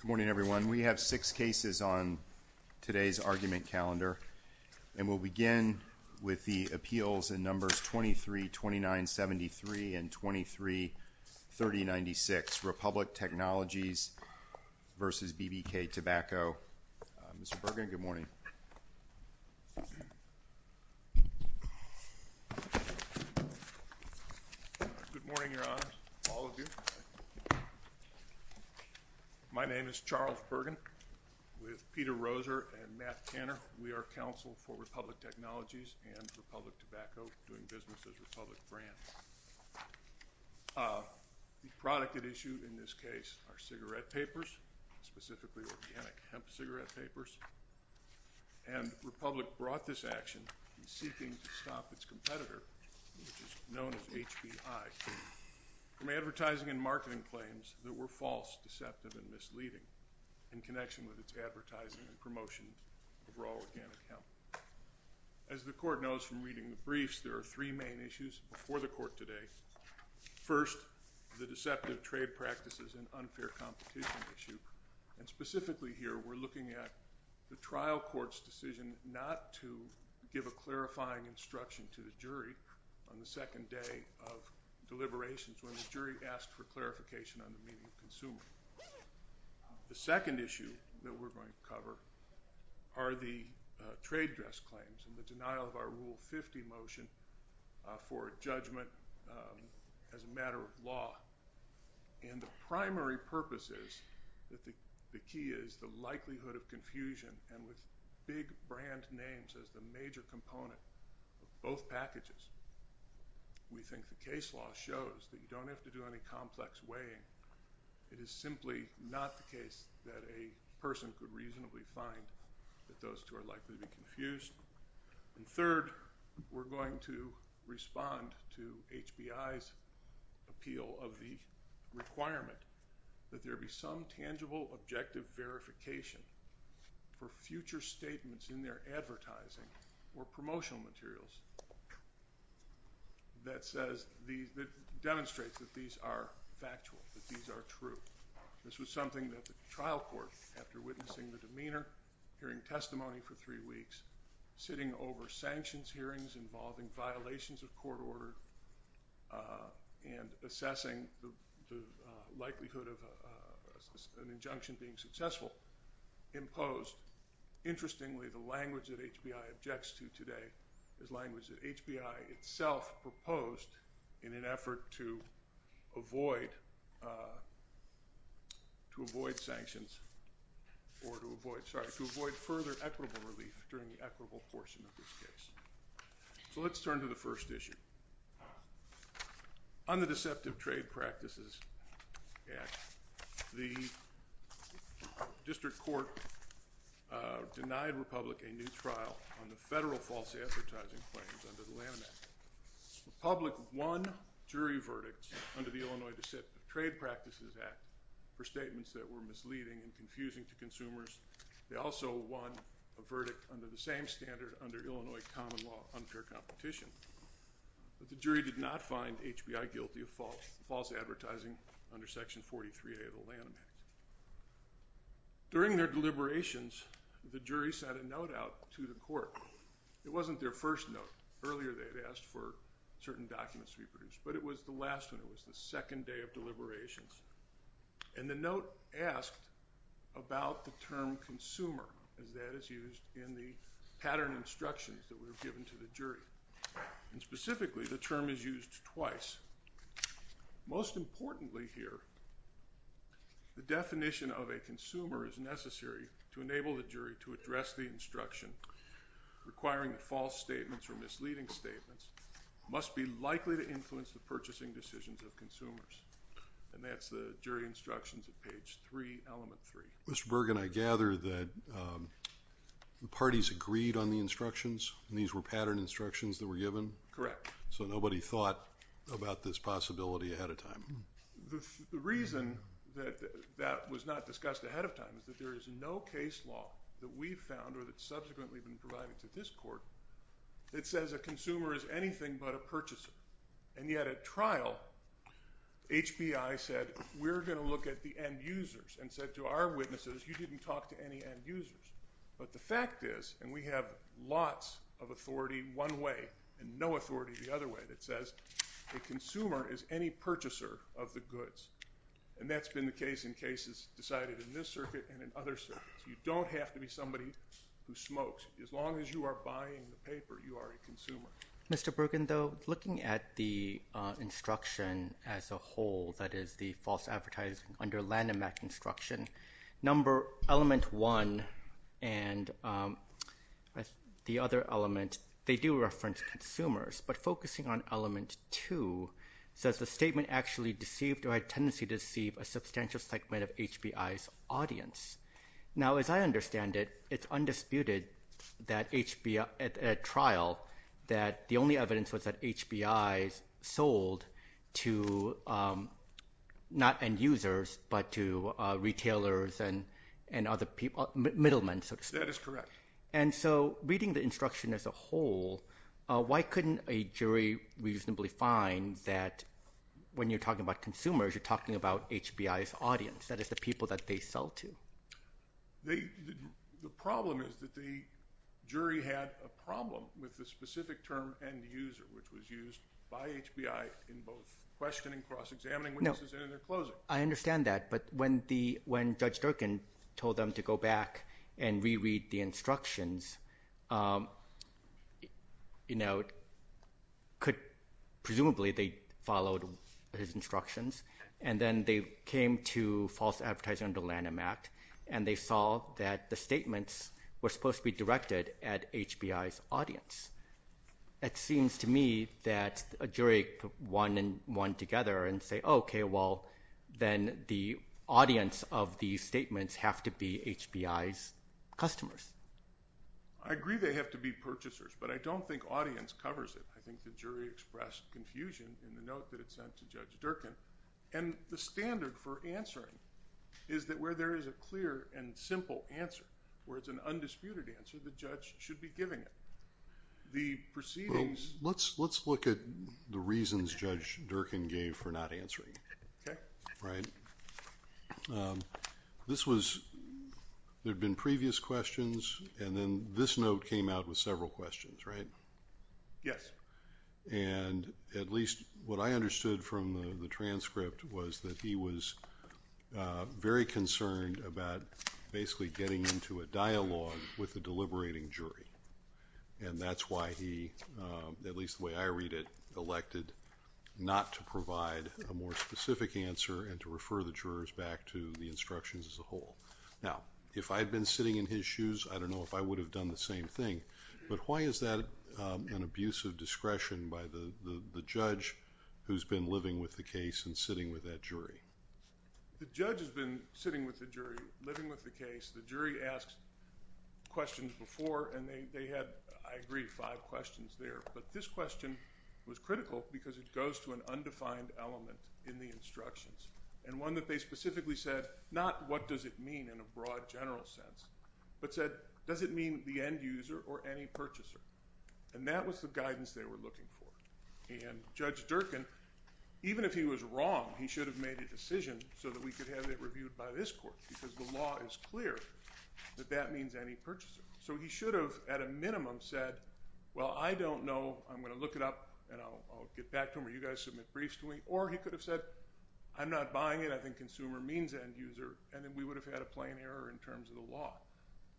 Good morning everyone. We have six cases on today's argument calendar and we'll begin with the appeals in numbers 23-2973 and 23-3096, Republic Technologies v. BBK Tobacco. Mr. Bergen, good morning. Good morning, Your Honors. All of you. My name is Charles Bergen with Peter Roser and Matt Tanner. We are counsel for Republic Technologies and Republic Tobacco, doing business as Republic Brands. The product at issue in this case are cigarette papers, specifically organic hemp cigarette papers, and Republic brought this action in seeking to stop its competitor, which is known as HBI, from advertising and marketing claims that were false, deceptive, and misleading in connection with its advertising and promotion of raw organic hemp. As the court knows from reading the briefs, there are three main issues before the court today. First, the deceptive trade practices and unfair competition issue, and specifically here we're looking at the trial court's decision not to give a clarifying instruction to the jury on the second day of deliberations when the jury asked for clarification on the consumer. The second issue that we're going to cover are the trade dress claims and the denial of our Rule 50 motion for a judgment as a matter of law, and the primary purpose is that the key is the likelihood of confusion, and with big brand names as the major component of both packages, we think the case law shows that you don't have to do any complex weighing. It is simply not the case that a person could reasonably find that those two are likely to be confused. And third, we're going to respond to HBI's appeal of the requirement that there be some tangible objective verification for future statements in their advertising or promotional materials that demonstrates that these are factual, that these are true. This was something that the trial court, after witnessing the demeanor, hearing testimony for three weeks, sitting over sanctions hearings involving violations of court order and assessing the likelihood of an injunction being successful, imposed. Interestingly, the language that HBI objects to today is language that HBI itself proposed in an effort to avoid sanctions or to avoid, sorry, to avoid further equitable relief during the equitable portion of this case. So let's turn to the first issue. On the federal false advertising claims under the Lanham Act, the public won jury verdicts under the Illinois Deceptive Trade Practices Act for statements that were misleading and confusing to consumers. They also won a verdict under the same standard under Illinois common law unfair competition, but the jury did not find HBI guilty of false false advertising under section 43A of the law. So the jury sent a note out to the court. It wasn't their first note. Earlier they had asked for certain documents to be produced, but it was the last one. It was the second day of deliberations. And the note asked about the term consumer, as that is used in the pattern instructions that were given to the jury. And specifically, the term is used twice. Most importantly here, the definition of a consumer is necessary to enable the jury to address the instruction requiring false statements or misleading statements must be likely to influence the purchasing decisions of consumers. And that's the jury instructions at page 3, element 3. Mr. Bergen, I gather that the parties agreed on the instructions. These were pattern instructions that were given? Correct. So nobody thought about this possibility ahead of time? The reason that that was not discussed ahead of time is that there is no case law that we've found or that's subsequently been provided to this court that says a consumer is anything but a purchaser. And yet at trial, HBI said we're going to look at the end-users and said to our witnesses, you didn't talk to any end-users. But the fact is, and we have lots of authority one way and no authority the other way, that says a consumer is any purchaser of the goods. And that's been the case in cases decided in this circuit and in other circuits. You don't have to be somebody who smokes. As long as you are buying the paper, you are a consumer. Mr. Bergen, though, looking at the instruction as a whole, that is the false advertising under Lanham Act instruction, number element one and the other element, they do reference consumers. But focusing on element two says the statement actually deceived or had a tendency to deceive a substantial segment of HBI's audience. Now as I understand it, it's undisputed that HBI, at trial, that the only evidence was that HBI sold to not end-users but to retailers and other people, middlemen. That is correct. And so reading the instruction as a whole, why couldn't a jury reasonably find that when you're talking about consumers, you're talking about HBI's audience, that is the people that they sell to? The problem is that the jury had a problem with the specific term end-user, which was used by HBI in both questioning, cross-examining, witnesses, and in their closing. No, I understand that, but when the, when Judge Durkin told them to go back and reread the instructions, you know, could, presumably they followed his instructions, and then they came to false advertising under Lanham Act, and they saw that the statements were supposed to be directed at HBI's audience. It seems to me that a jury could put one and one together and say, okay, well, then the audience of these statements have to be HBI's customers. I agree they have to be purchasers, but I don't think audience covers it. I think the jury expressed confusion in the note that it sent to Judge Durkin, and the standard for answering is that where there is a clear and simple answer, where it's an undisputed answer, the judge should be giving it. The proceedings... Let's, let's look at the reasons Judge Durkin gave for not answering. Okay. Right. This was, there had been previous questions, and then this note came out with several questions, right? Yes. And at least what I understood from the transcript was that he was very concerned about basically getting into a dialogue with the deliberating jury, and that's why he, at least the way I read it, elected not to provide a more specific answer and to refer the jurors back to the instructions as a whole. Now, if I had been sitting in his shoes, I don't know if I would have done the same thing, but why is that an abuse of discretion by the judge who's been living with the case and sitting with that jury? The judge has been sitting with the jury, living with the case. The jury asked questions before, and they had, I agree, five questions there, but this question was critical because it goes to an undefined element in the instructions, and one that they specifically said, not what does it mean in a broad general sense, but said, does it mean the end-user or any purchaser? And that was the guidance they were looking for. And Judge Durkin, even if he was wrong, he should have made a decision so that we could have it reviewed by this court, because the law is clear that that means any purchaser. So he should have, at a minimum, said, well, I don't know, I'm going to look it up, and I'll get back to him, or you guys submit briefs to me, or he could have said, I'm not buying it, I think consumer means end-user, and then we would have had a plain error in terms of the law.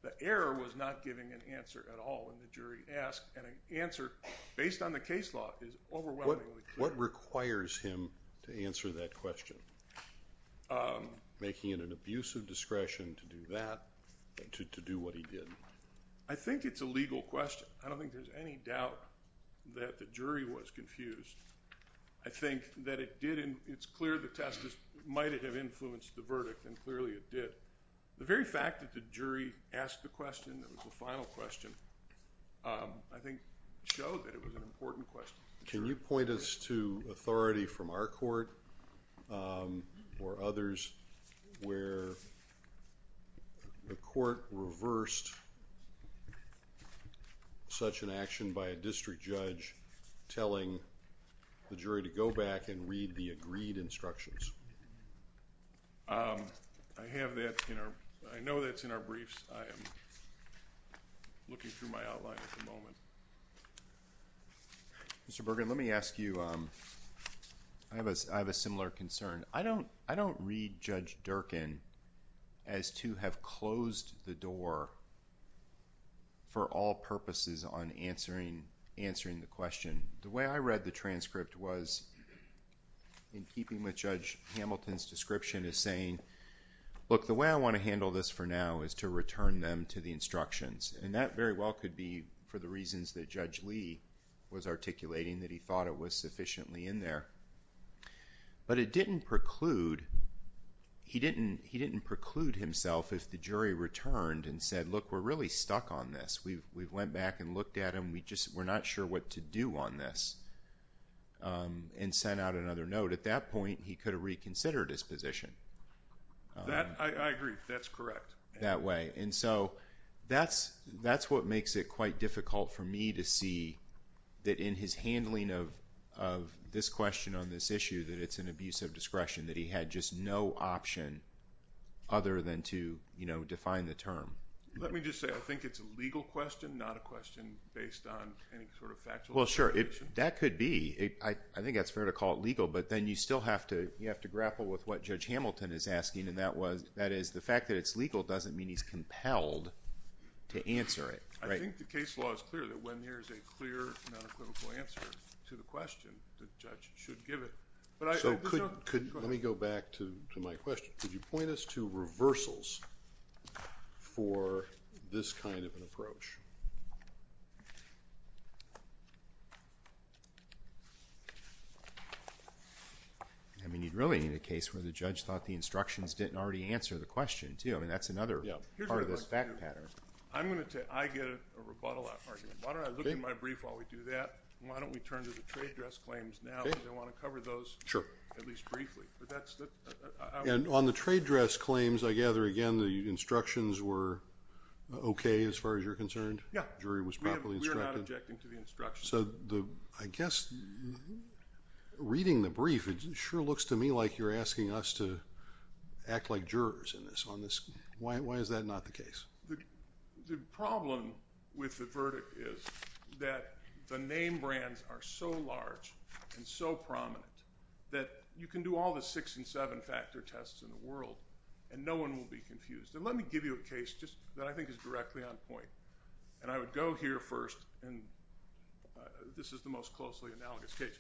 The error was not giving an answer at all, and the jury asked, and an answer based on the case law is overwhelming. What requires him to answer that question? Making it an abuse of discretion to do that, to do what he did. I think it's a legal question. I don't think there's any doubt that the jury was confused. I think that it did, it's clear the test might have influenced the verdict, and clearly it did. The very fact that the jury asked the question, that was the final question, I think showed that it was an important question. Can you point us to authority from our court, or others, where the court reversed such an action by a district judge telling the jury to go back and read the agreed instructions? I have that in our... I know that's in our briefs. I am looking through my outline at the moment. Mr. Bergen, let me ask you, I have a similar concern. I don't read Judge Durkin as to have closed the door for all purposes on answering the question. The way I read the transcript was, in keeping with Judge Hamilton's description, is saying, look, the way I want to handle this for now is to return them to the instructions. That very well could be for the reasons that Judge Lee was articulating, that he thought it was sufficiently in there. But it didn't preclude... he didn't preclude himself if the jury returned and said, look, we're really stuck on this. We went back and looked at him. We're not sure what to do on this, and sent out another note. At that point, he could have reconsidered his position. I agree. That's correct. That way. That's what makes it quite difficult for me to see that in his handling of this question on this issue, that it's an abuse of discretion, that he had just no option other than to define the term. Let me just say, I think it's a legal question, not a question based on any sort of factual... Well, sure. That could be. I think that's fair to call it legal, but then you still have to grapple with what Judge Hamilton is asking, and that is the fact that it's legal doesn't mean he's compelled to answer it. I think the case law is clear that when there's a clear and unequivocal answer to the question, the judge should give it. Let me go back to my question. Could you point us to reversals for this kind of an approach? I mean, you'd really need a case where the judge thought the instructions didn't already answer the question, too, and that's another part of this fact pattern. I get a rebuttal argument. Why don't I look at my brief while we do that, and why don't we turn to the trade dress claims now, because I want to cover those at least briefly. On the trade dress claims, I gather, again, the instructions were okay, as far as you're concerned? Yeah. The jury was properly instructed? We are not objecting to the instructions. I guess reading the brief, it sure looks to me like you're asking us to act like jurors in this. Why is that not the case? The problem with the verdict is that the name brands are so large and so prominent that you can do all the six and seven factor tests in the world, and no one will be confused. Let me give you a case that I think is directly on point. I would go here first, and this is the most closely analogous case.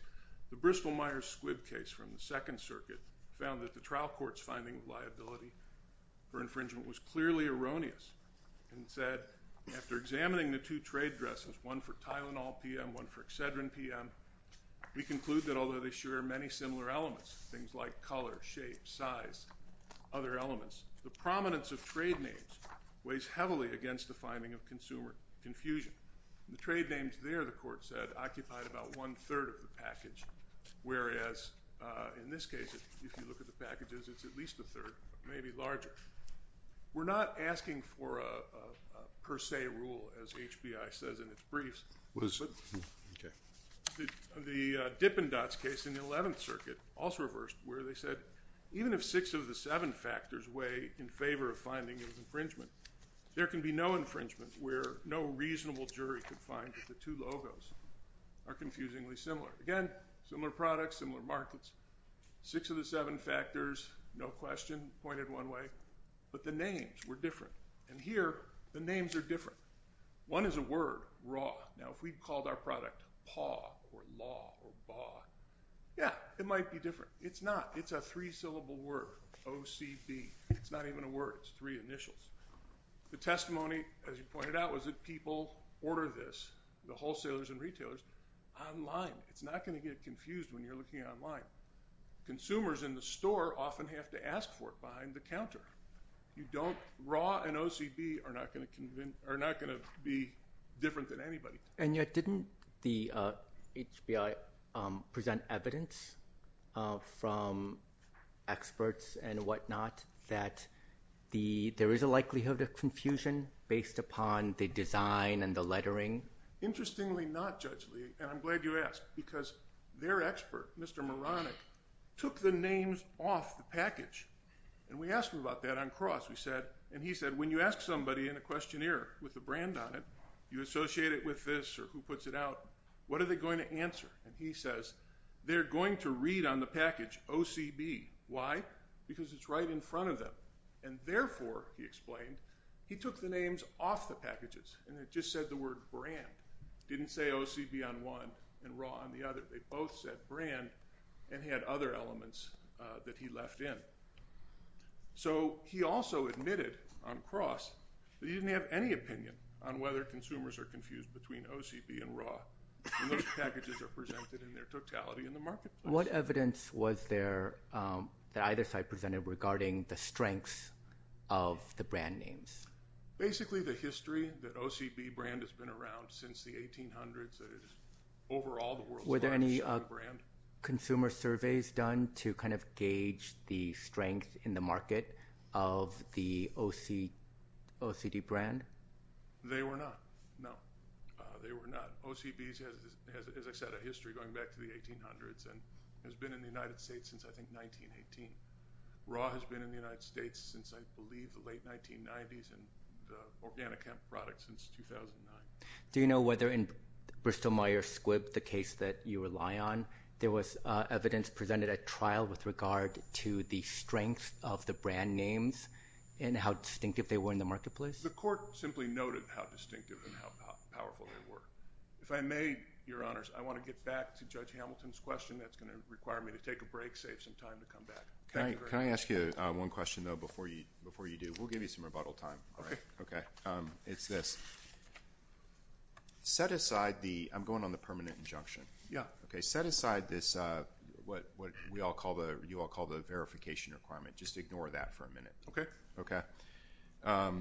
The Bristol-Myers-Squib case from the Second Circuit found that the trial court's finding of liability for infringement was clearly erroneous. It said, after examining the two trade dresses, one for Tylenol PM, one for Excedrin PM, we conclude that although they share many similar elements, things like color, shape, size, other elements, the prominence of trade names weighs heavily against the finding of consumer confusion. The trade names there, the court said, occupied about one-third of the package, whereas in this case, if you look at the packages, it's at least a third, maybe larger. We're not asking for a per se rule, as HBI says in its briefs. The Dippendatz case in the Eleventh Circuit, also reversed, where they said, even if six of the seven factors weigh in favor of finding of the two logos are confusingly similar. Again, similar products, similar markets, six of the seven factors, no question, pointed one way, but the names were different. And here, the names are different. One is a word, raw. Now, if we called our product paw or law or bough, yeah, it might be different. It's not. It's a three-syllable word, O-C-B. It's not even a word. It's three initials. The testimony, as you pointed out, was that people ordered this, the wholesalers and retailers, online. It's not going to get confused when you're looking online. Consumers in the store often have to ask for it behind the counter. Raw and O-C-B are not going to be different than anybody. And yet, didn't the HBI present evidence from experts and whatnot that there is a likelihood of confusion based upon the design and the lettering? Interestingly not, Judge Lee, and I'm glad you asked, because their expert, Mr. Moronic, took the names off the package. And we asked him about that on Cross. And he said, when you ask somebody in a questionnaire with a brand on it, you associate it with this or who puts it out, what are they going to answer? And he says, they're going to read on the package O-C-B. Why? Because it's right in front of them. And therefore, he explained, he took the names off the packages. And it just said the word brand. It didn't say O-C-B on one and raw on the other. They both said brand and had other elements that he left in. So he also admitted on Cross that he didn't have any opinion on whether consumers are confused between O-C-B and raw. And those packages are presented in their totality in the marketplace. What evidence was there that either side presented regarding the strengths of the brand names? Basically, the history that O-C-B brand has been around since the 1800s. Overall, the world's largest brand. Were there any consumer surveys done to kind of gauge the strength in the market of the O-C-D brand? They were not. No. They were not. O-C-B has a set of history going back to the 1800s and has been in the United States since, I think, 1918. Raw has been in the United States since, I believe, the late 1990s, and the Organicamp product since 2009. Do you know whether in Bristol-Myers Squibb, the case that you rely on, there was evidence presented at trial with regard to the strength of the brand names and how distinctive they were in the marketplace? The court simply noted how distinctive and how powerful they were. If I may, Your Honors, I want to get back to Judge Hamilton's question. That's going to require me to take a break, save some time to come back. Thank you very much. Can I ask you one question, though, before you do? We'll give you some rebuttal time. Okay. Okay. It's this. Set aside the – I'm going on the permanent injunction. Yeah. Okay. Set aside this, what you all call the verification requirement. Just ignore that for a minute. Okay. Okay.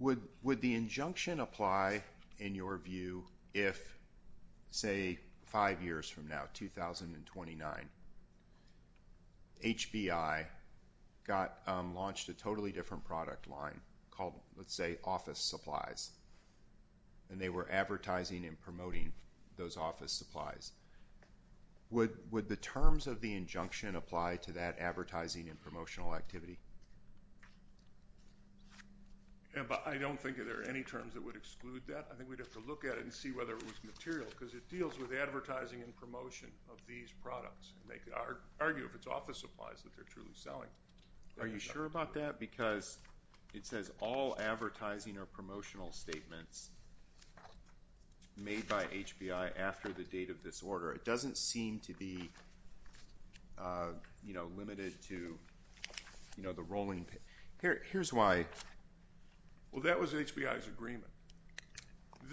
Would the injunction apply, in your view, if, say, five years from now, 2029, HBI launched a totally different product line called, let's say, office supplies, and they were advertising and promoting those office supplies. Would the terms of the injunction apply to that advertising and promotional activity? I don't think there are any terms that would exclude that. I think we'd have to look at it and see whether it was material, because it deals with advertising and promotion of these products. They could argue if it's office supplies that they're truly selling. Are you sure about that? Because it says all advertising or promotional statements made by HBI after the date of this order. It doesn't seem to be limited to the rolling – here's why. Well, that was HBI's agreement.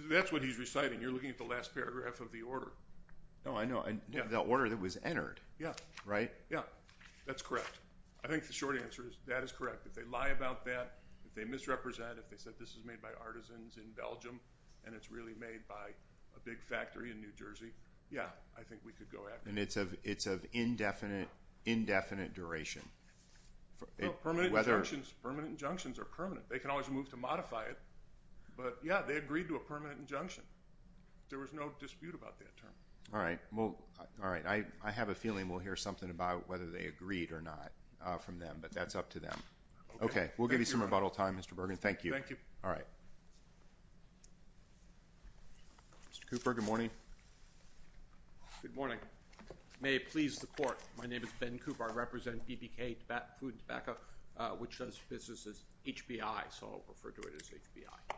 That's what he's reciting. You're looking at the last paragraph of the order. Oh, I know. The order that was entered. Yeah. Right? Yeah. That's correct. I think the short answer is that is correct. If they lie about that, if they misrepresent, if they said this is made by artisans in Belgium and it's really made by a big factory in New Jersey, yeah, I think we could go after it. And it's of indefinite duration. Permanent injunctions are permanent. They can always move to modify it. But, yeah, they agreed to a permanent injunction. There was no dispute about that term. All right. I have a feeling we'll hear something about whether they agreed or not from them, but that's up to them. Okay. We'll give you some rebuttal time, Mr. Bergen. Thank you. Thank you. All right. Mr. Cooper, good morning. Good morning. May it please the Court, my name is Ben Cooper. I represent BBK Food and Tobacco, which does business as HBI, so I'll refer to it as HBI.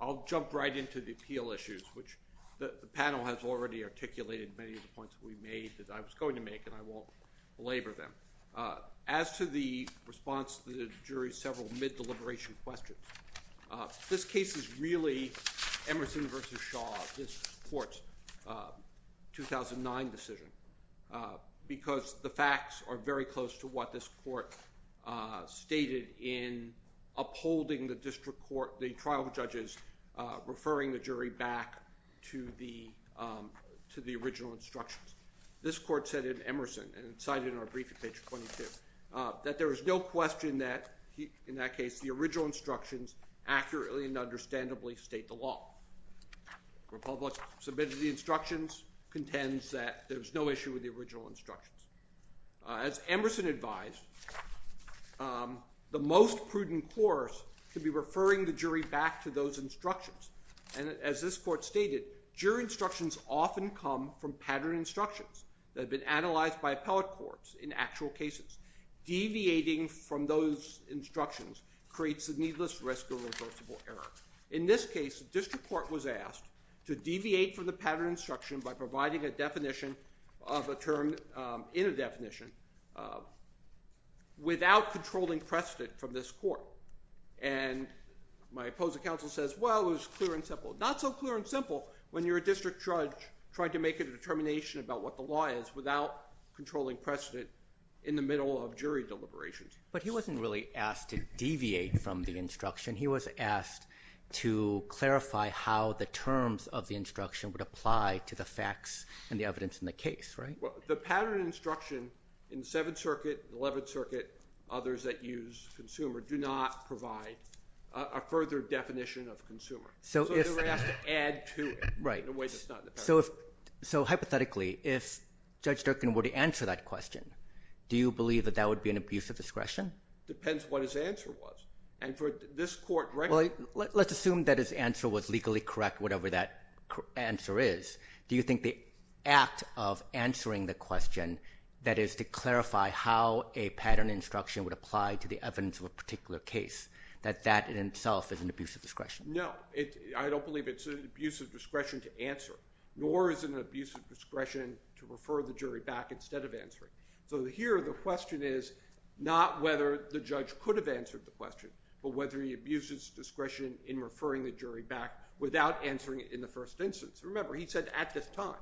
I'll jump right into the appeal issues, which the panel has already articulated many of the points we made that I was going to make and I won't belabor them. As to the response to the jury's several mid-deliberation questions, this case is really Emerson v. Shaw, this court's 2009 decision, because the facts are very close to what this court stated in upholding the district court, the trial judges, referring the jury back to the original instructions. This court said in Emerson, and it's cited in our brief at page 22, that there is no question that, in that case, the original instructions accurately and understandably state the law. Republic submitted the instructions, contends that there's no issue with the original instructions. As Emerson advised, the most prudent course could be referring the jury back to those instructions, and as this court stated, jury instructions often come from pattern instructions that have been analyzed by appellate courts in actual cases. Deviating from those instructions creates a needless risk of reversible error. In this case, the district court was asked to deviate from the pattern instruction by providing a definition of a term in a definition without controlling precedent from this court. And my opposing counsel says, well, it was clear and simple. Not so clear and simple when you're a district judge trying to make a determination about what the law is without controlling precedent in the middle of jury deliberations. But he wasn't really asked to deviate from the instruction. He was asked to clarify how the terms of the instruction would apply to the facts and the evidence in the case, right? The pattern instruction in Seventh Circuit, Eleventh Circuit, others that use consumer do not provide a further definition of consumer. So they were asked to add to it in a way that's not in the pattern. So hypothetically, if Judge Durkin were to answer that question, do you believe that that would be an abuse of discretion? Depends what his answer was. And for this court, right? Well, let's assume that his answer was legally correct, whatever that answer is. Do you think the act of answering the question that is to clarify how a pattern instruction would apply to the evidence of a particular case, that that in itself is an abuse of discretion? No. I don't believe it's an abuse of discretion to answer, nor is it an abuse of discretion to refer the jury back instead of answering. So here the question is not whether the judge could have answered the but whether he abuses discretion in referring the jury back without answering it in the first instance. Remember, he said at this time.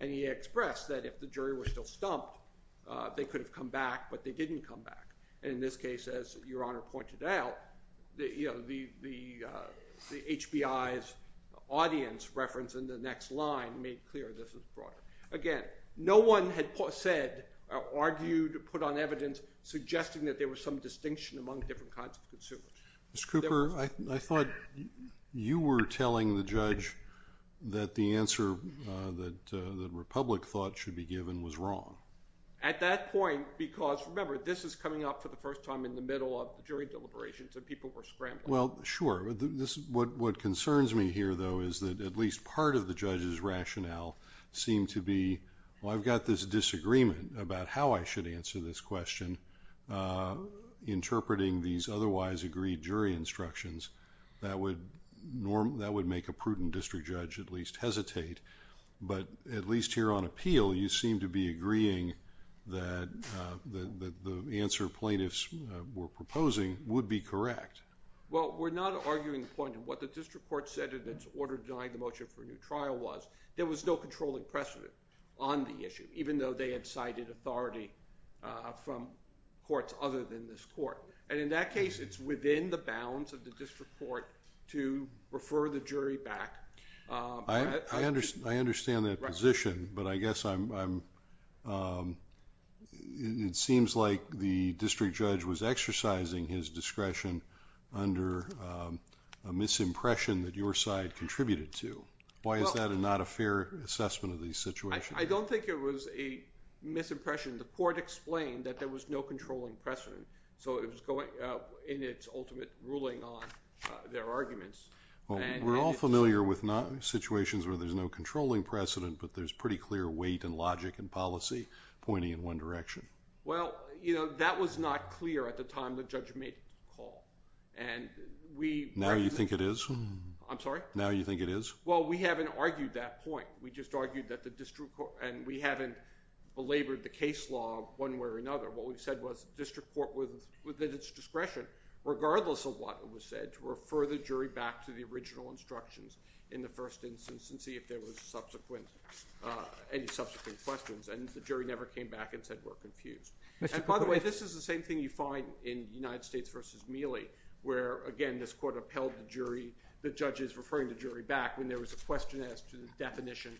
And he expressed that if the jury were still stumped, they could have come back, but they didn't come back. And in this case, as Your Honor pointed out, the HBI's audience reference in the next line made clear this was Again, no one had said, argued, put on evidence suggesting that there was some distinction among different kinds of consumers. Ms. Cooper, I thought you were telling the judge that the answer that the Republic thought should be given was wrong. At that point, because remember, this is coming up for the first time in the middle of jury deliberations and people were scrambling. Well, sure. What concerns me here, though, is that at least part of the judge's rationale seemed to be, well, I've got this disagreement about how I should answer this question. Interpreting these otherwise agreed jury instructions, that would make a prudent district judge at least hesitate. But at least here on appeal, you seem to be agreeing that the answer plaintiffs were proposing would be correct. Well, we're not arguing the point of what the district court said in its order denying the motion for new trial was. There was no controlling precedent on the issue, even though they had cited authority from courts other than this court. And in that case, it's within the bounds of the district court to refer the jury back. I understand that position, but I guess I'm, um, it seems like the district judge was exercising his discretion under, um, a misimpression that your side contributed to. Why is that a not a fair assessment of the situation? I don't think it was a misimpression. The court explained that there was no controlling precedent. So it was going in its ultimate ruling on their arguments. We're all familiar with not situations where there's no controlling precedent, but there's pretty clear weight and logic and policy pointing in one direction. Well, you know, that was not clear at the time the judge made the call and we, now you think it is, I'm sorry. Now you think it is. Well, we haven't argued that point. We just argued that the district court and we haven't belabored the case law one way or another. What we've said was district court was within its discretion, regardless of what was said to refer the jury back to the original instructions in the first instance, and see if there was subsequent, uh, any subsequent questions and the jury never came back and said, we're confused. And by the way, this is the same thing you find in United States versus Mealy, where again, this court upheld the jury, the judges referring to jury back when there was a question as to the definition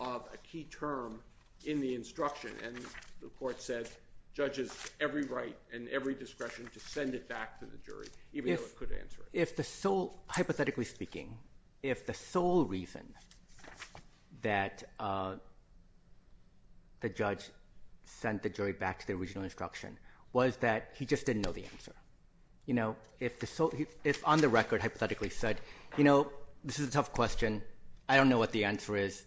of a key term in the instruction. And the court said judges, every right and every discretion to send it back to the jury, even though it could answer it. If the sole hypothetically speaking, if the sole reason that, uh, the judge sent the jury back to the original instruction was that he just didn't know the answer. You know, if the sole, if on the record, hypothetically said, you know, this is a tough question. I don't know what the answer is.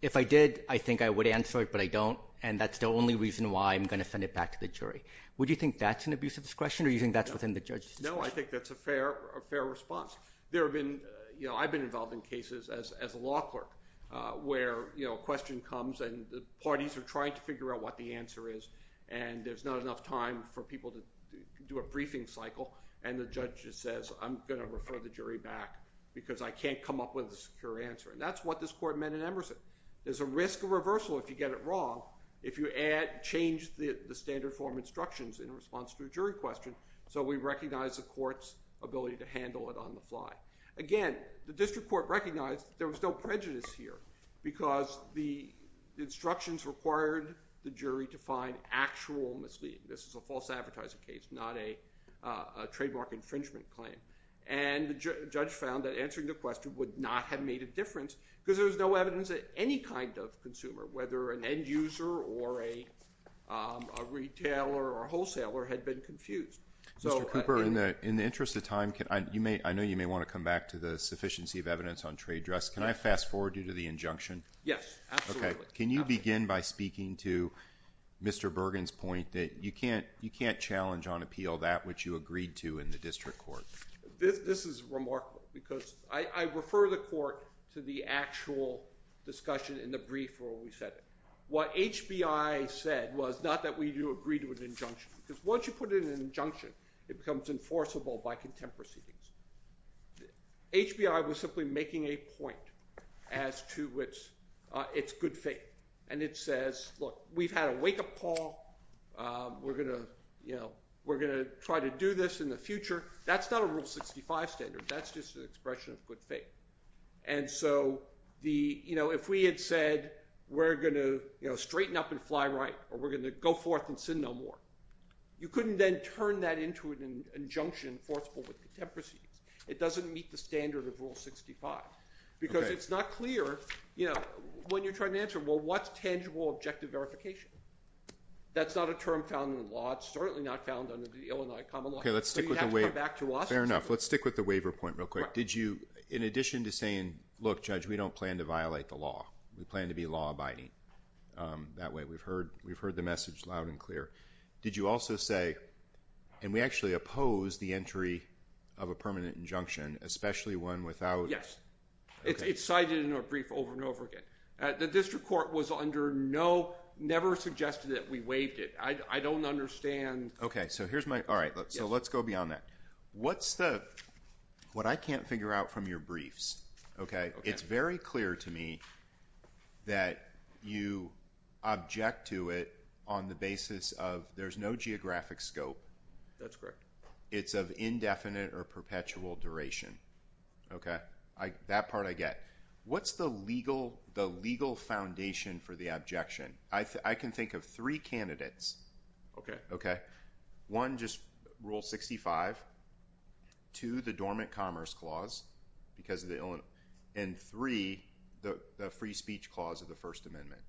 If I did, I think I would answer it, but I don't. And that's the only reason why I'm going to send it back to the jury. Would you think that's an abuse of discretion or using that's within the judge? No, I think that's a fair, a fair response. There have been, you know, I've been involved in cases as, as a law clerk, uh, where, you know, question comes and the parties are trying to figure out what the answer is. And there's not enough time for people to do a briefing cycle. And the judge says, I'm going to refer the jury back because I can't come up with a secure answer. And that's what this court meant in Emerson. There's a risk of reversal. If you get it wrong, if you add, change the standard form instructions in response to a jury question. So we recognize the court's ability to handle it on the fly. Again, the district court recognized there was no prejudice here because the instructions required the jury to find actual misleading. This is a false advertising case, not a, a trademark infringement claim. And the judge found that answering the question would not have made a difference because there was no evidence that any kind of consumer, whether an end user or a, um, a retailer or wholesaler had been confused. So. In the interest of time, can I, you may, I know you may want to come back to the sufficiency of evidence on trade dress. Can I fast forward due to the injunction? Yes. Okay. Can you begin by speaking to Mr. Bergen's point that you can't, you can't challenge on appeal that which you agreed to in the district court. This is remarkable because I refer the court to the actual discussion in the brief where we said it, what HBI said was not that we do agree to an injunction because once you put it in an injunction, it becomes enforceable by contemporary. HBI was simply making a point as to which, uh, it's good faith and it says, look, we've had a wake up call. Um, we're going to, you know, we're going to try to do this in the future. That's not a rule 65 standard. That's just an expression of good faith. And so the, you know, if we had said, we're going to, you know, straighten up and fly right, or we're going to go forth and sin no more. You couldn't then turn that into an injunction enforceable with contemporary. It doesn't meet the standard of rule 65 because it's not clear, you know, when you're trying to answer, well, what's tangible objective verification. That's not a term found in the law. It's certainly not found under the Illinois common law. Okay. Let's stick with the waiver point real quick. Did you, in addition to saying, look, judge, we don't plan to violate the law. We plan to be law abiding. Um, that way we've heard, we've heard the message loud and clear. Did you also say, and we actually oppose the entry of a permanent injunction, especially one without it's cited in a brief over and over again. The district court was under no, never suggested that we waived it. I don't understand. Okay. So here's my, all right. So let's go beyond that. What's the, what I can't figure out from your briefs. Okay. It's very clear to me that you object to it on the basis of there's no geographic scope. That's correct. It's of indefinite or perpetual duration. Okay. I, that part I get what's the legal, the legal foundation for the objection. I think I can think of three candidates. Okay. Okay. One just rule 65 to the dormant commerce clause because of the Illinois and three, the free speech clause of the first amendment.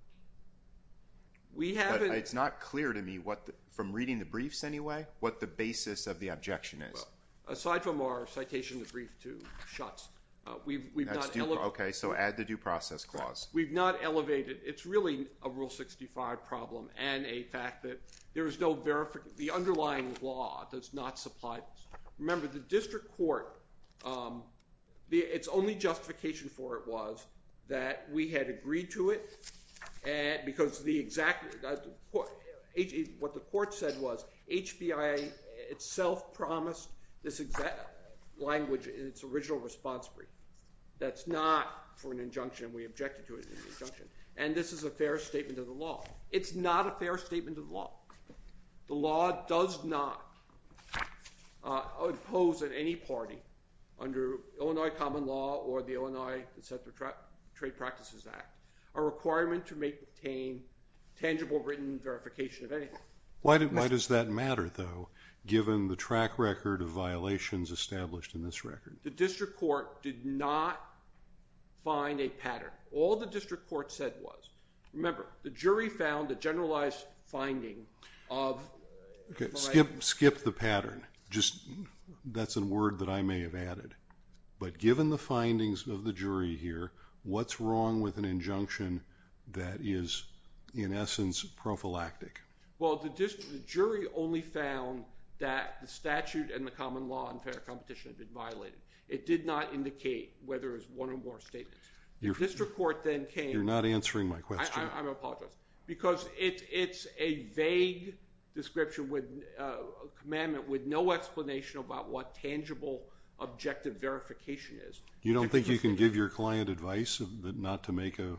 We haven't, it's not clear to me what the, from reading the briefs anyway, what the basis of the objection is aside from our citation, the brief two shots. Uh, we've, we've not, okay. So add the due process clause. We've not elevated. It's really a rule 65 problem and a fact that there was no verification. The underlying law does not supply. Remember the district court, um, the it's only justification for it was that we had agreed to it. And because the exact what the court said was HBI itself promised this exact language in its original response brief. That's not for an injunction. We objected to it in conjunction. And this is a fair statement of the law. It's not a fair statement of law. The law does not, uh, oppose at any party under Illinois common law or the Illinois etc. Trap trade practices act, a requirement to make the pain tangible written verification of anything. Why did, why does that matter though? Given the track record of violations established in this record, the district court did not find a pattern. All the district court said was, remember, the jury found a generalized finding of skip, skip the pattern. Just that's a word that I may have added, but given the findings of the jury here, what's wrong with an injunction that is in essence prophylactic. Well, the jury only found that the statute and the common law and fair competition have been violated. It did not indicate whether it was one or more statements. Your district court then came, you're not answering my question. I'm apologizing because it's a vague description with a commandment with no explanation about what tangible objective verification is. You don't think you can give your client advice that not to make a,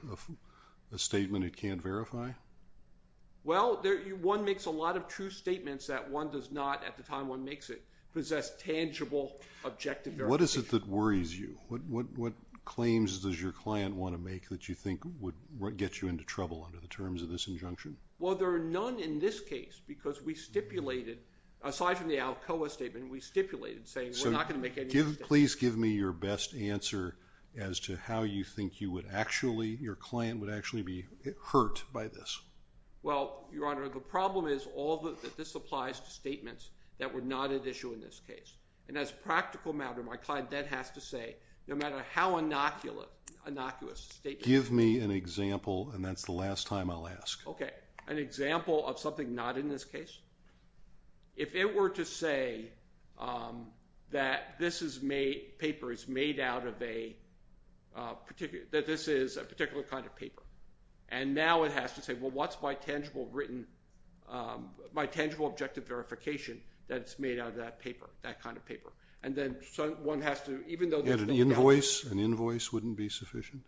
a statement it can't verify. Well, there, one makes a lot of true statements that one does not at the time one makes it objective. What is it that worries you? What, what, what claims does your client want to make that you think would get you into trouble under the terms of this injunction? Well, there are none in this case because we stipulated, aside from the Alcoa statement, we stipulated saying, we're not going to make any, please give me your best answer as to how you think you would actually, your client would actually be hurt by this. Well, Your Honor, the problem is all that this applies to statements that were not at issue in this case. And as practical matter, my client then has to say no matter how inoculant, innocuous statement. Give me an example. And that's the last time I'll ask. Okay. An example of something not in this case, if it were to say that this is made, paper is made out of a particular, that this is a particular kind of paper and now it has to say, well, what's my tangible written, my tangible objective verification. That's made out of that paper, that kind of paper. And then one has to, even though there's an invoice, an invoice wouldn't be sufficient.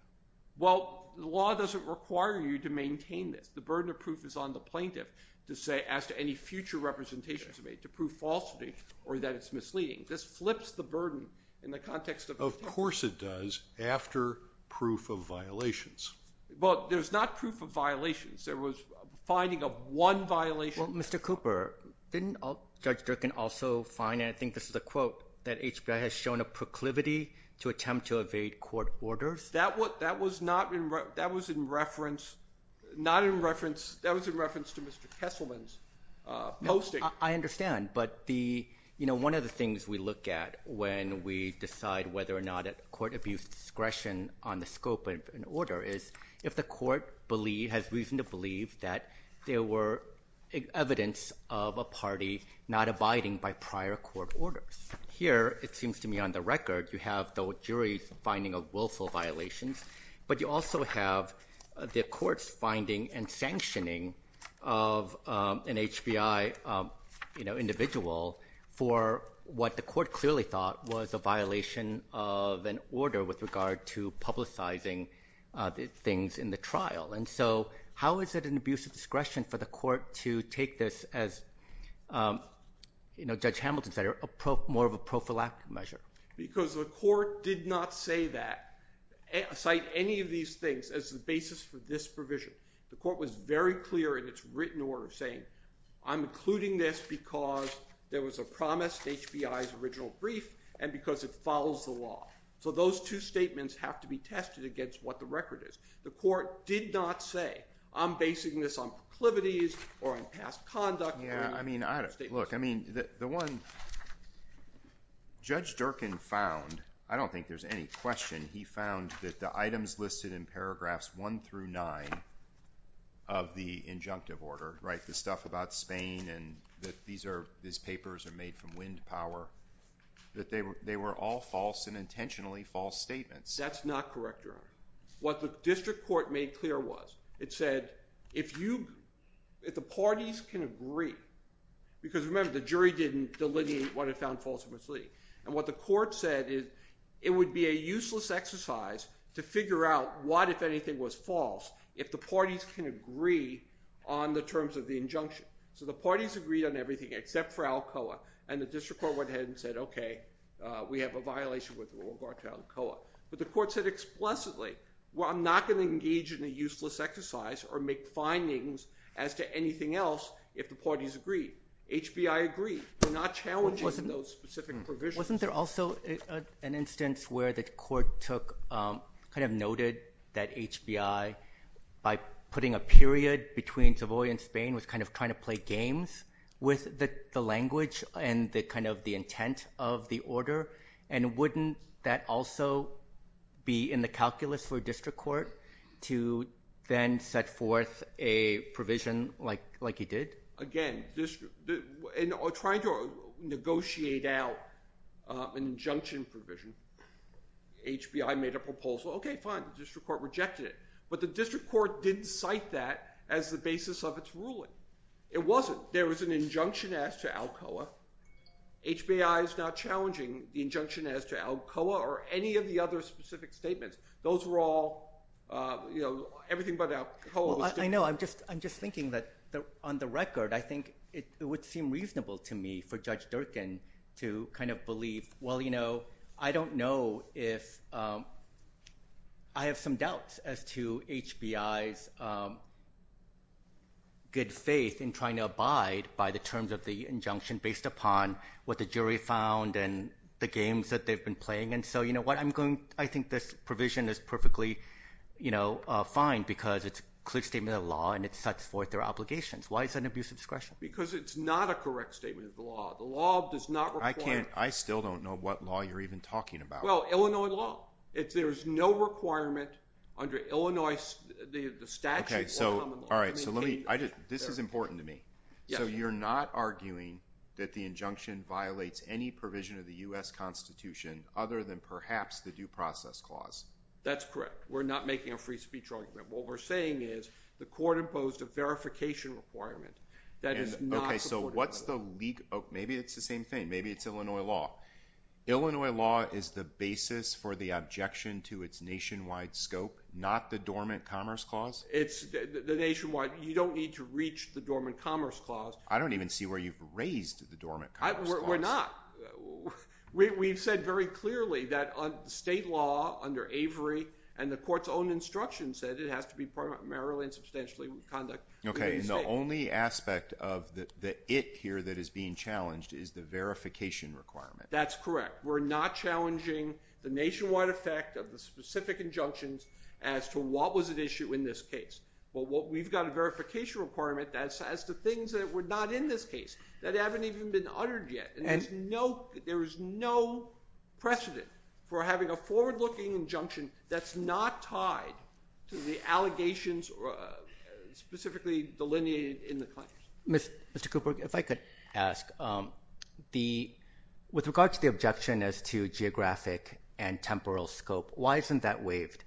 Well, the law doesn't require you to maintain this. The burden of proof is on the plaintiff to say as to any future representations made to prove falsity or that it's misleading. This flips the burden in the context of course it does after proof of violations. Well, there's not proof of violations. There was finding of one violation. Mr. Cooper didn't judge Durkin also find, and I think this is a quote that HBI has shown a proclivity to attempt to evade court orders. That was not in, that was in reference, not in reference, that was in reference to Mr. Kesselman's posting. I understand. But the, you know, one of the things we look at when we decide whether or not at court abuse, discretion on the scope of an order is if the court believe has reason to believe that there were evidence of a party not abiding by prior court orders here, it seems to me on the record, you have the jury finding of willful violations, but you also have the courts finding and sanctioning of an HBI, you know, individual for what the court clearly thought was a violation of an order with regard to publicizing things in the trial. And so how is it an abuse of discretion for the court to take this as, um, you know, judge Hamilton's that are more of a prophylactic measure because the court did not say that a site, any of these things as the basis for this provision, the court was very clear in its written order saying, I'm including this because there was a promise HBI's original brief and because it follows the law. So those two statements have to be tested against what the record is. The court did not say I'm basing this on clivities or in past conduct. Yeah. I mean, I don't look, I mean the one judge Durkin found, I don't think there's any question. He found that the items listed in paragraphs one through nine of the injunctive order, right? The stuff about Spain and that these are, these papers are made from wind power, that they were, they were all false and intentionally false statements. That's not correct. What the district court made clear was it said, if you, if the parties can agree because remember the jury didn't delineate what it found false and misleading. And what the court said is it would be a useless exercise to figure out what, if anything was false, if the parties can agree on the terms of the injunction. So the parties agreed on everything except for Alcoa and the district court went ahead and said, okay, uh, we have a violation with the rule of Alcoa. But the court said explicitly, well, I'm not going to engage in a useless exercise or make findings as to anything else. If the parties agree, HBI agree, we're not challenging those specific provisions. Wasn't there also an instance where the court took, um, kind of noted that HBI by putting a period between Savoy and Spain was kind of trying to play games with the language and the kind of the intent of the ruling. And wouldn't that also be in the calculus for district court to then set forth a provision like, like he did? Again, just trying to negotiate out, uh, an injunction provision. HBI made a proposal. Okay, fine. The district court rejected it, but the district court didn't cite that as the basis of its ruling. It wasn't. There was an injunction as to Alcoa. HBI is not challenging. The injunction as to Alcoa or any of the other specific statements, those were all, uh, you know, everything but Alcoa. I know. I'm just, I'm just thinking that on the record, I think it would seem reasonable to me for judge Durkin to kind of believe, well, you know, I don't know if, um, I have some doubts as to HBI's, um, good faith in trying to abide by the terms of the injunction based upon what the the games that they've been playing. And so, you know what I'm going, I think this provision is perfectly, you know, uh, fine because it's clear statement of law and it sets forth their obligations. Why is that an abuse of discretion? Because it's not a correct statement of the law. The law does not require. I still don't know what law you're even talking about. Well, Illinois law. If there is no requirement under Illinois, the statute. All right. So let me, I just, this is important to me. So you're not arguing that the injunction violates any provision of the US constitution other than perhaps the due process clause. That's correct. We're not making a free speech argument. What we're saying is the court imposed a verification requirement. Okay. So what's the leak? Oh, maybe it's the same thing. Maybe it's Illinois law. Illinois law is the basis for the objection to its nationwide scope, not the dormant commerce clause. It's the nationwide. You don't need to reach the dormant commerce clause. I don't even see where you've raised the dormant. We're not, we, we've said very clearly that on state law under Avery and the court's own instruction said it has to be primarily and substantially conduct. Okay. And the only aspect of the, the, it here that is being challenged is the verification requirement. That's correct. We're not challenging the nationwide effect of the specific injunctions as to what was at issue in this case. Well, what we've got a verification requirement that says the things that were not in this case that haven't even been uttered yet. And there's no, there was no precedent for having a forward looking injunction. That's not tied to the allegations or specifically delineated in the client. Mr. Mr. Cooper, if I could ask, um, the, with regard to the objection as to geographic and temporal scope, why isn't that waived?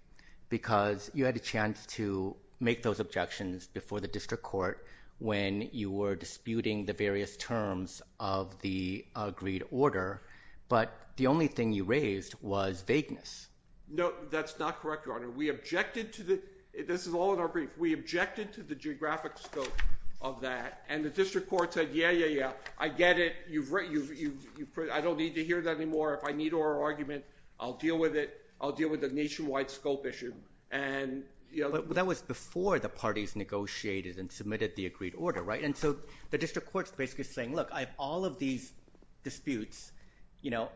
Because you had a chance to make those objections before the district court when you were disputing the various terms of the agreed order. But the only thing you raised was vagueness. No, that's not correct. Your Honor. We objected to the, this is all in our brief. We objected to the geographic scope of that. And the district court said, yeah, yeah, yeah. I get it. You've written, you've, you've, you've, I don't need to hear that anymore. If I need oral argument, I'll deal with it. I'll deal with the nationwide scope issue. And you know, but that was before the parties negotiated and submitted the agreed order. Right. And so the district court's basically saying, look, I have all of these disputes, you know,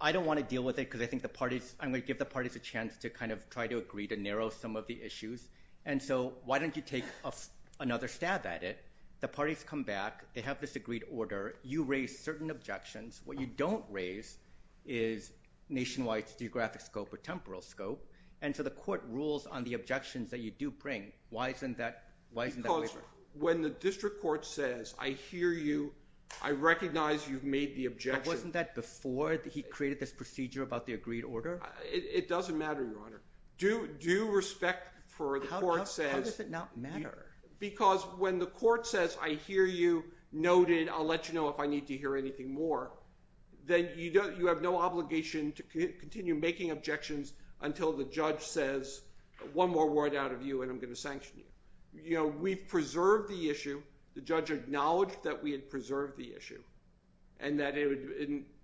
I don't want to deal with it because I think the parties I'm going to give the parties a chance to kind of try to agree to narrow some of the issues. And so why don't you take another stab at it? The parties come back, they have this agreed order. You raise certain objections. What you don't raise is nationwide geographic scope or temporal scope. And so the court rules on the objections that you do bring. Why isn't that, why isn't that when the district court says, I hear you, I recognize you've made the objection. Wasn't that before he created this procedure about the agreed order? It doesn't matter. Your honor do, do respect for the court says, because when the court says, I hear you noted, I'll let you know if I need to hear anything more than you don't, you have no obligation to continue making objections until the judge says one more word out of you and I'm going to sanction you. You know, we've preserved the issue. The judge acknowledged that we had preserved the issue and that it was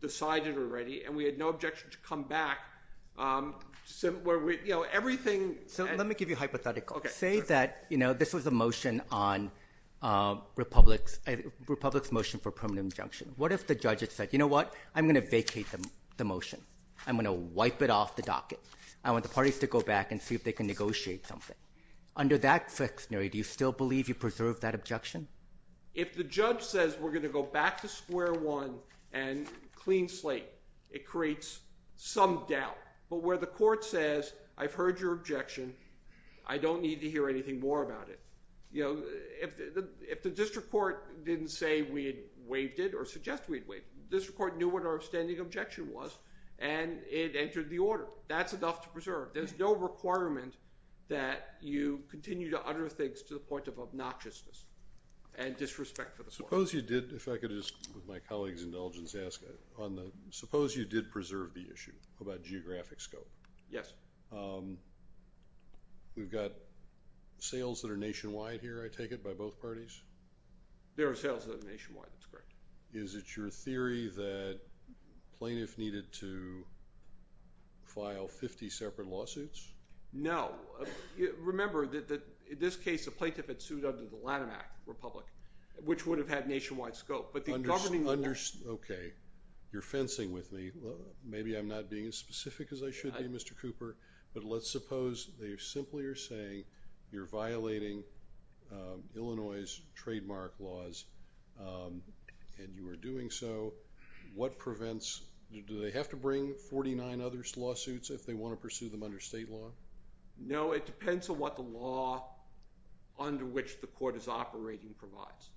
decided already. And we had no objection to come back. So where we, you know, everything. So let me give you a hypothetical. Okay. Say that, you know, this was a motion on Republic's Republic's motion for permanent injunction. What if the judge had said, you know what, I'm going to vacate the motion. I'm going to wipe it off the docket. I want the parties to go back and see if they can negotiate something under that sectionary. Do you still believe you preserve that objection? If the judge says we're going to go back to square one and clean slate, it creates some doubt, but where the court says, I've heard your objection. I don't need to hear anything more about it. You know, if the, if the district court didn't say we had waived it or suggest we'd wait, this report knew what our standing objection was and it entered the order. That's enough to preserve. There's no requirement that you continue to utter things to the point of obnoxiousness and disrespect for the suppose you did. If I could just with my colleagues indulgence, ask on the, suppose you did preserve the issue about geographic scope. Yes. Um, we've got sales that are nationwide here. I take it by both parties. There are sales nationwide. That's correct. Is it your theory that plaintiff needed to file 50 separate lawsuits? No. Remember that, that in this case, the plaintiff had sued under the Lattimac Republic, which would have had nationwide scope, but the government. Okay. You're fencing with me. Maybe I'm not being as specific as I should be Mr. Cooper, but let's suppose they simply are saying you're violating, um, Illinois trademark laws. Um, and you are doing so. What prevents, do they have to bring 49 others lawsuits if they want to pursue them under state law? No, it depends on what the law under which the court is operating provides.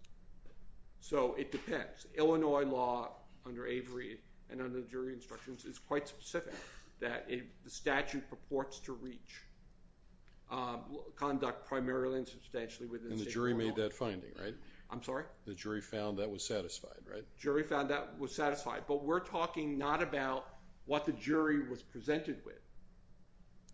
So it depends. Illinois law under Avery and under the jury instructions is quite specific that the statute purports to reach, um, conduct primarily and substantially within the jury made that finding, right? I'm sorry. The jury found that was satisfied, right? Jury found that was satisfied, but we're talking not about what the jury was presented with.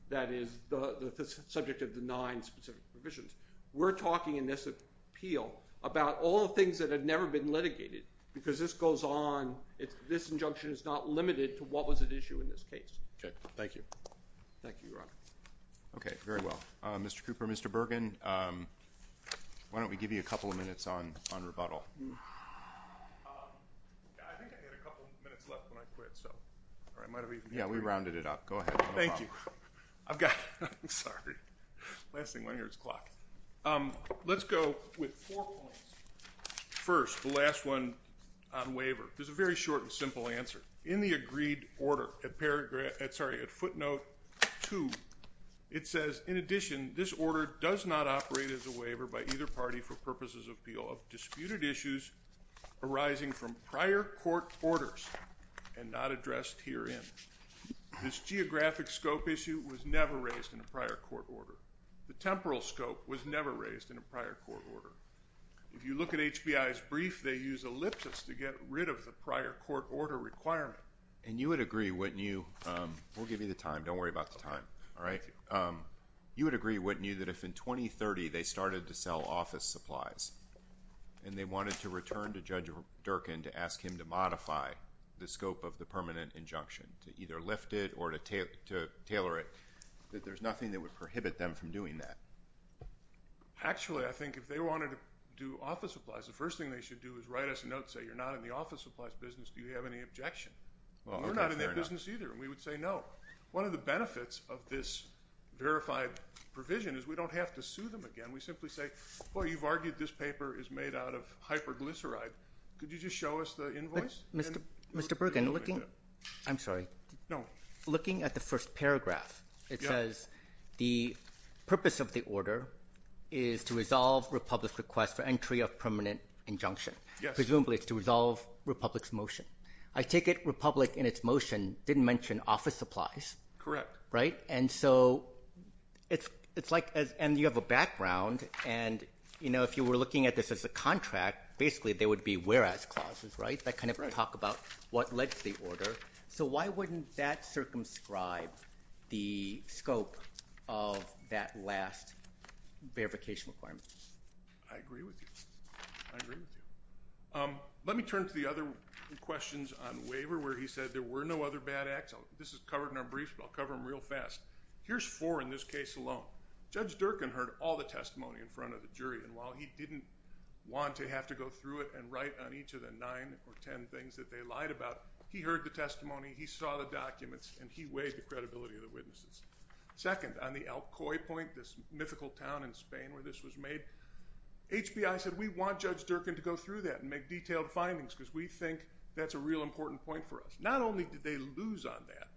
That is the subject of the nine specific provisions. We're talking in this appeal about all the things that had never been litigated because this goes on. It's this injunction is not limited to what was at issue in this case. Okay. Thank you. Thank you. Okay. Very well. Uh, Mr. Cooper, Mr. Bergen. Um, why don't we give you a couple of minutes on, on rebuttal? Um, I think I had a couple of minutes left when I quit. So it might've been, yeah, we rounded it up. Go ahead. Thank you. I've got, I'm sorry. Last thing I hear is clock. Um, let's go with four points. First, the last one on waiver. There's a very short and simple answer in the agreed order at paragraph at, sorry, at footnote two. It says in addition, this order does not operate as a waiver by either party for purposes of appeal of disputed issues arising from prior court orders and not addressed here in this geographic scope issue was never raised in a prior court order. The temporal scope was never raised in a prior court order. If you look at HBI's brief, they use ellipsis to get rid of the prior court order requirement. And you would agree what new, um, we'll give you the time. Don't worry about the time. All right. Um, you would agree, wouldn't you, that if in 2030 they started to sell office supplies and they wanted to return to judge Durkin to ask him to modify the scope of the permanent injunction to either lift it or to tailor it, that there's nothing that would prohibit them from doing that. Actually, I think if they wanted to do office supplies, the first thing they should do is write us a note and say, you're not in the office supplies business. Do you have any objection? We're not in that business either. And we would say, no, one of the benefits of this verified provision is we don't have to sue them again. We simply say, well, you've argued. This paper is made out of hyperglyceride. Could you just show us the invoice? Mr. Mr Bergen looking, I'm sorry. No. Looking at the first paragraph, it says the purpose of the order is to resolve Republic's request for entry of permanent injunction. Presumably it's to resolve Republic's motion. I take it Republic in its motion didn't mention office supplies. Correct. Right. And so it's, it's like as, and you have a background and you know, if you were looking at this as a contract, basically there would be whereas clauses, right. That kind of talk about what led to the order. So why wouldn't that circumscribe the scope of that last verification requirement? I agree with you. I agree with you. Let me turn to the other questions on waiver, where he said there were no other bad acts. This is covered in our brief. I'll cover them real fast. Here's four in this case alone, judge Durkin heard all the testimony in front of the jury. And while he didn't want to have to go through it and write on each of the nine or 10 things that they lied about, he heard the testimony, he saw the documents and he weighed the credibility of the witnesses. Second on the Alcoy point, this mythical town in Spain where this was made, HBI said, we want judge Durkin to go through that and make detailed findings because we think that's a real important point for us. Not only did they lose on that,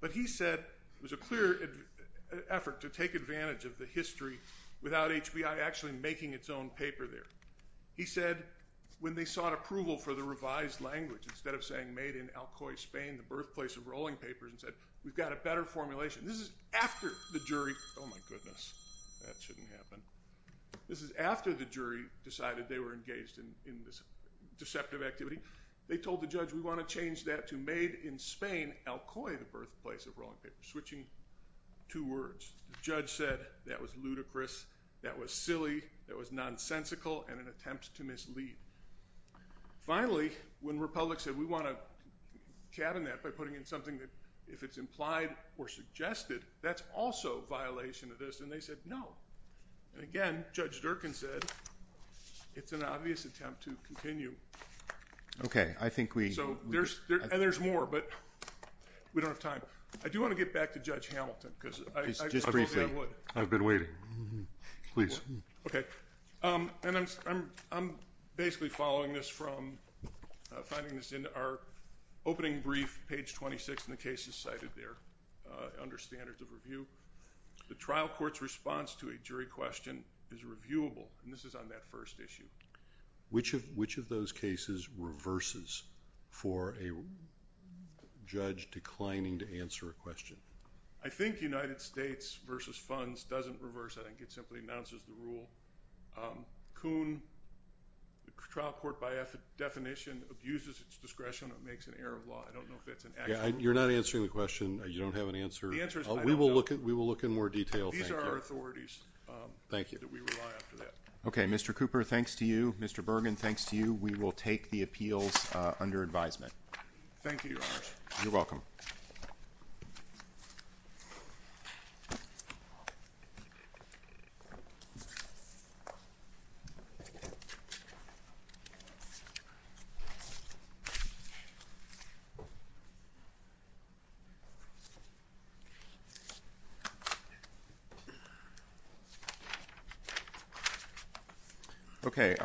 but he said it was a clear effort to take advantage of the history without HBI actually making its own paper there. He said, when they sought approval for the revised language, instead of saying made in Alcoy Spain, the birthplace of rolling papers and said, we've got a better formulation. This is after the jury. Oh my goodness. That shouldn't happen. This is after the jury decided they were engaged in this deceptive activity. They told the judge, we want to change that to made in Spain, Alcoy, the birthplace of rolling paper, switching two words. The judge said that was ludicrous. That was silly. That was nonsensical and an attempt to mislead. Finally, when Republic said, we want to cabin that by putting in something that if it's implied or suggested, that's also violation of this. And they said, no. And again, judge Durkin said, it's an obvious attempt to continue. Okay. I think we, and there's more, but we don't have time. I do want to get back to judge Hamilton because I've been waiting. Please. Okay. Um, and I'm, I'm, I'm basically following this from, uh, finding this in our opening brief page 26 in the cases cited there, uh, under standards of review, the trial court's response to a jury question is reviewable. And this is on that first issue, which have, which of those cases reverses for a judge declining to answer a question. I think United States versus funds doesn't reverse. I think it simply announces the rule. Um, Kuhn trial court by definition abuses its discretion. It makes an error of law. I don't know if that's an, you're not answering the question. You don't have an answer. We will look at, we will look in more detail. These are our authorities. Thank you. Okay. Mr. Cooper. Thanks to you, Mr. Bergen. Thanks to you. We will take the appeals under advisement. Thank you. You're welcome. Okay.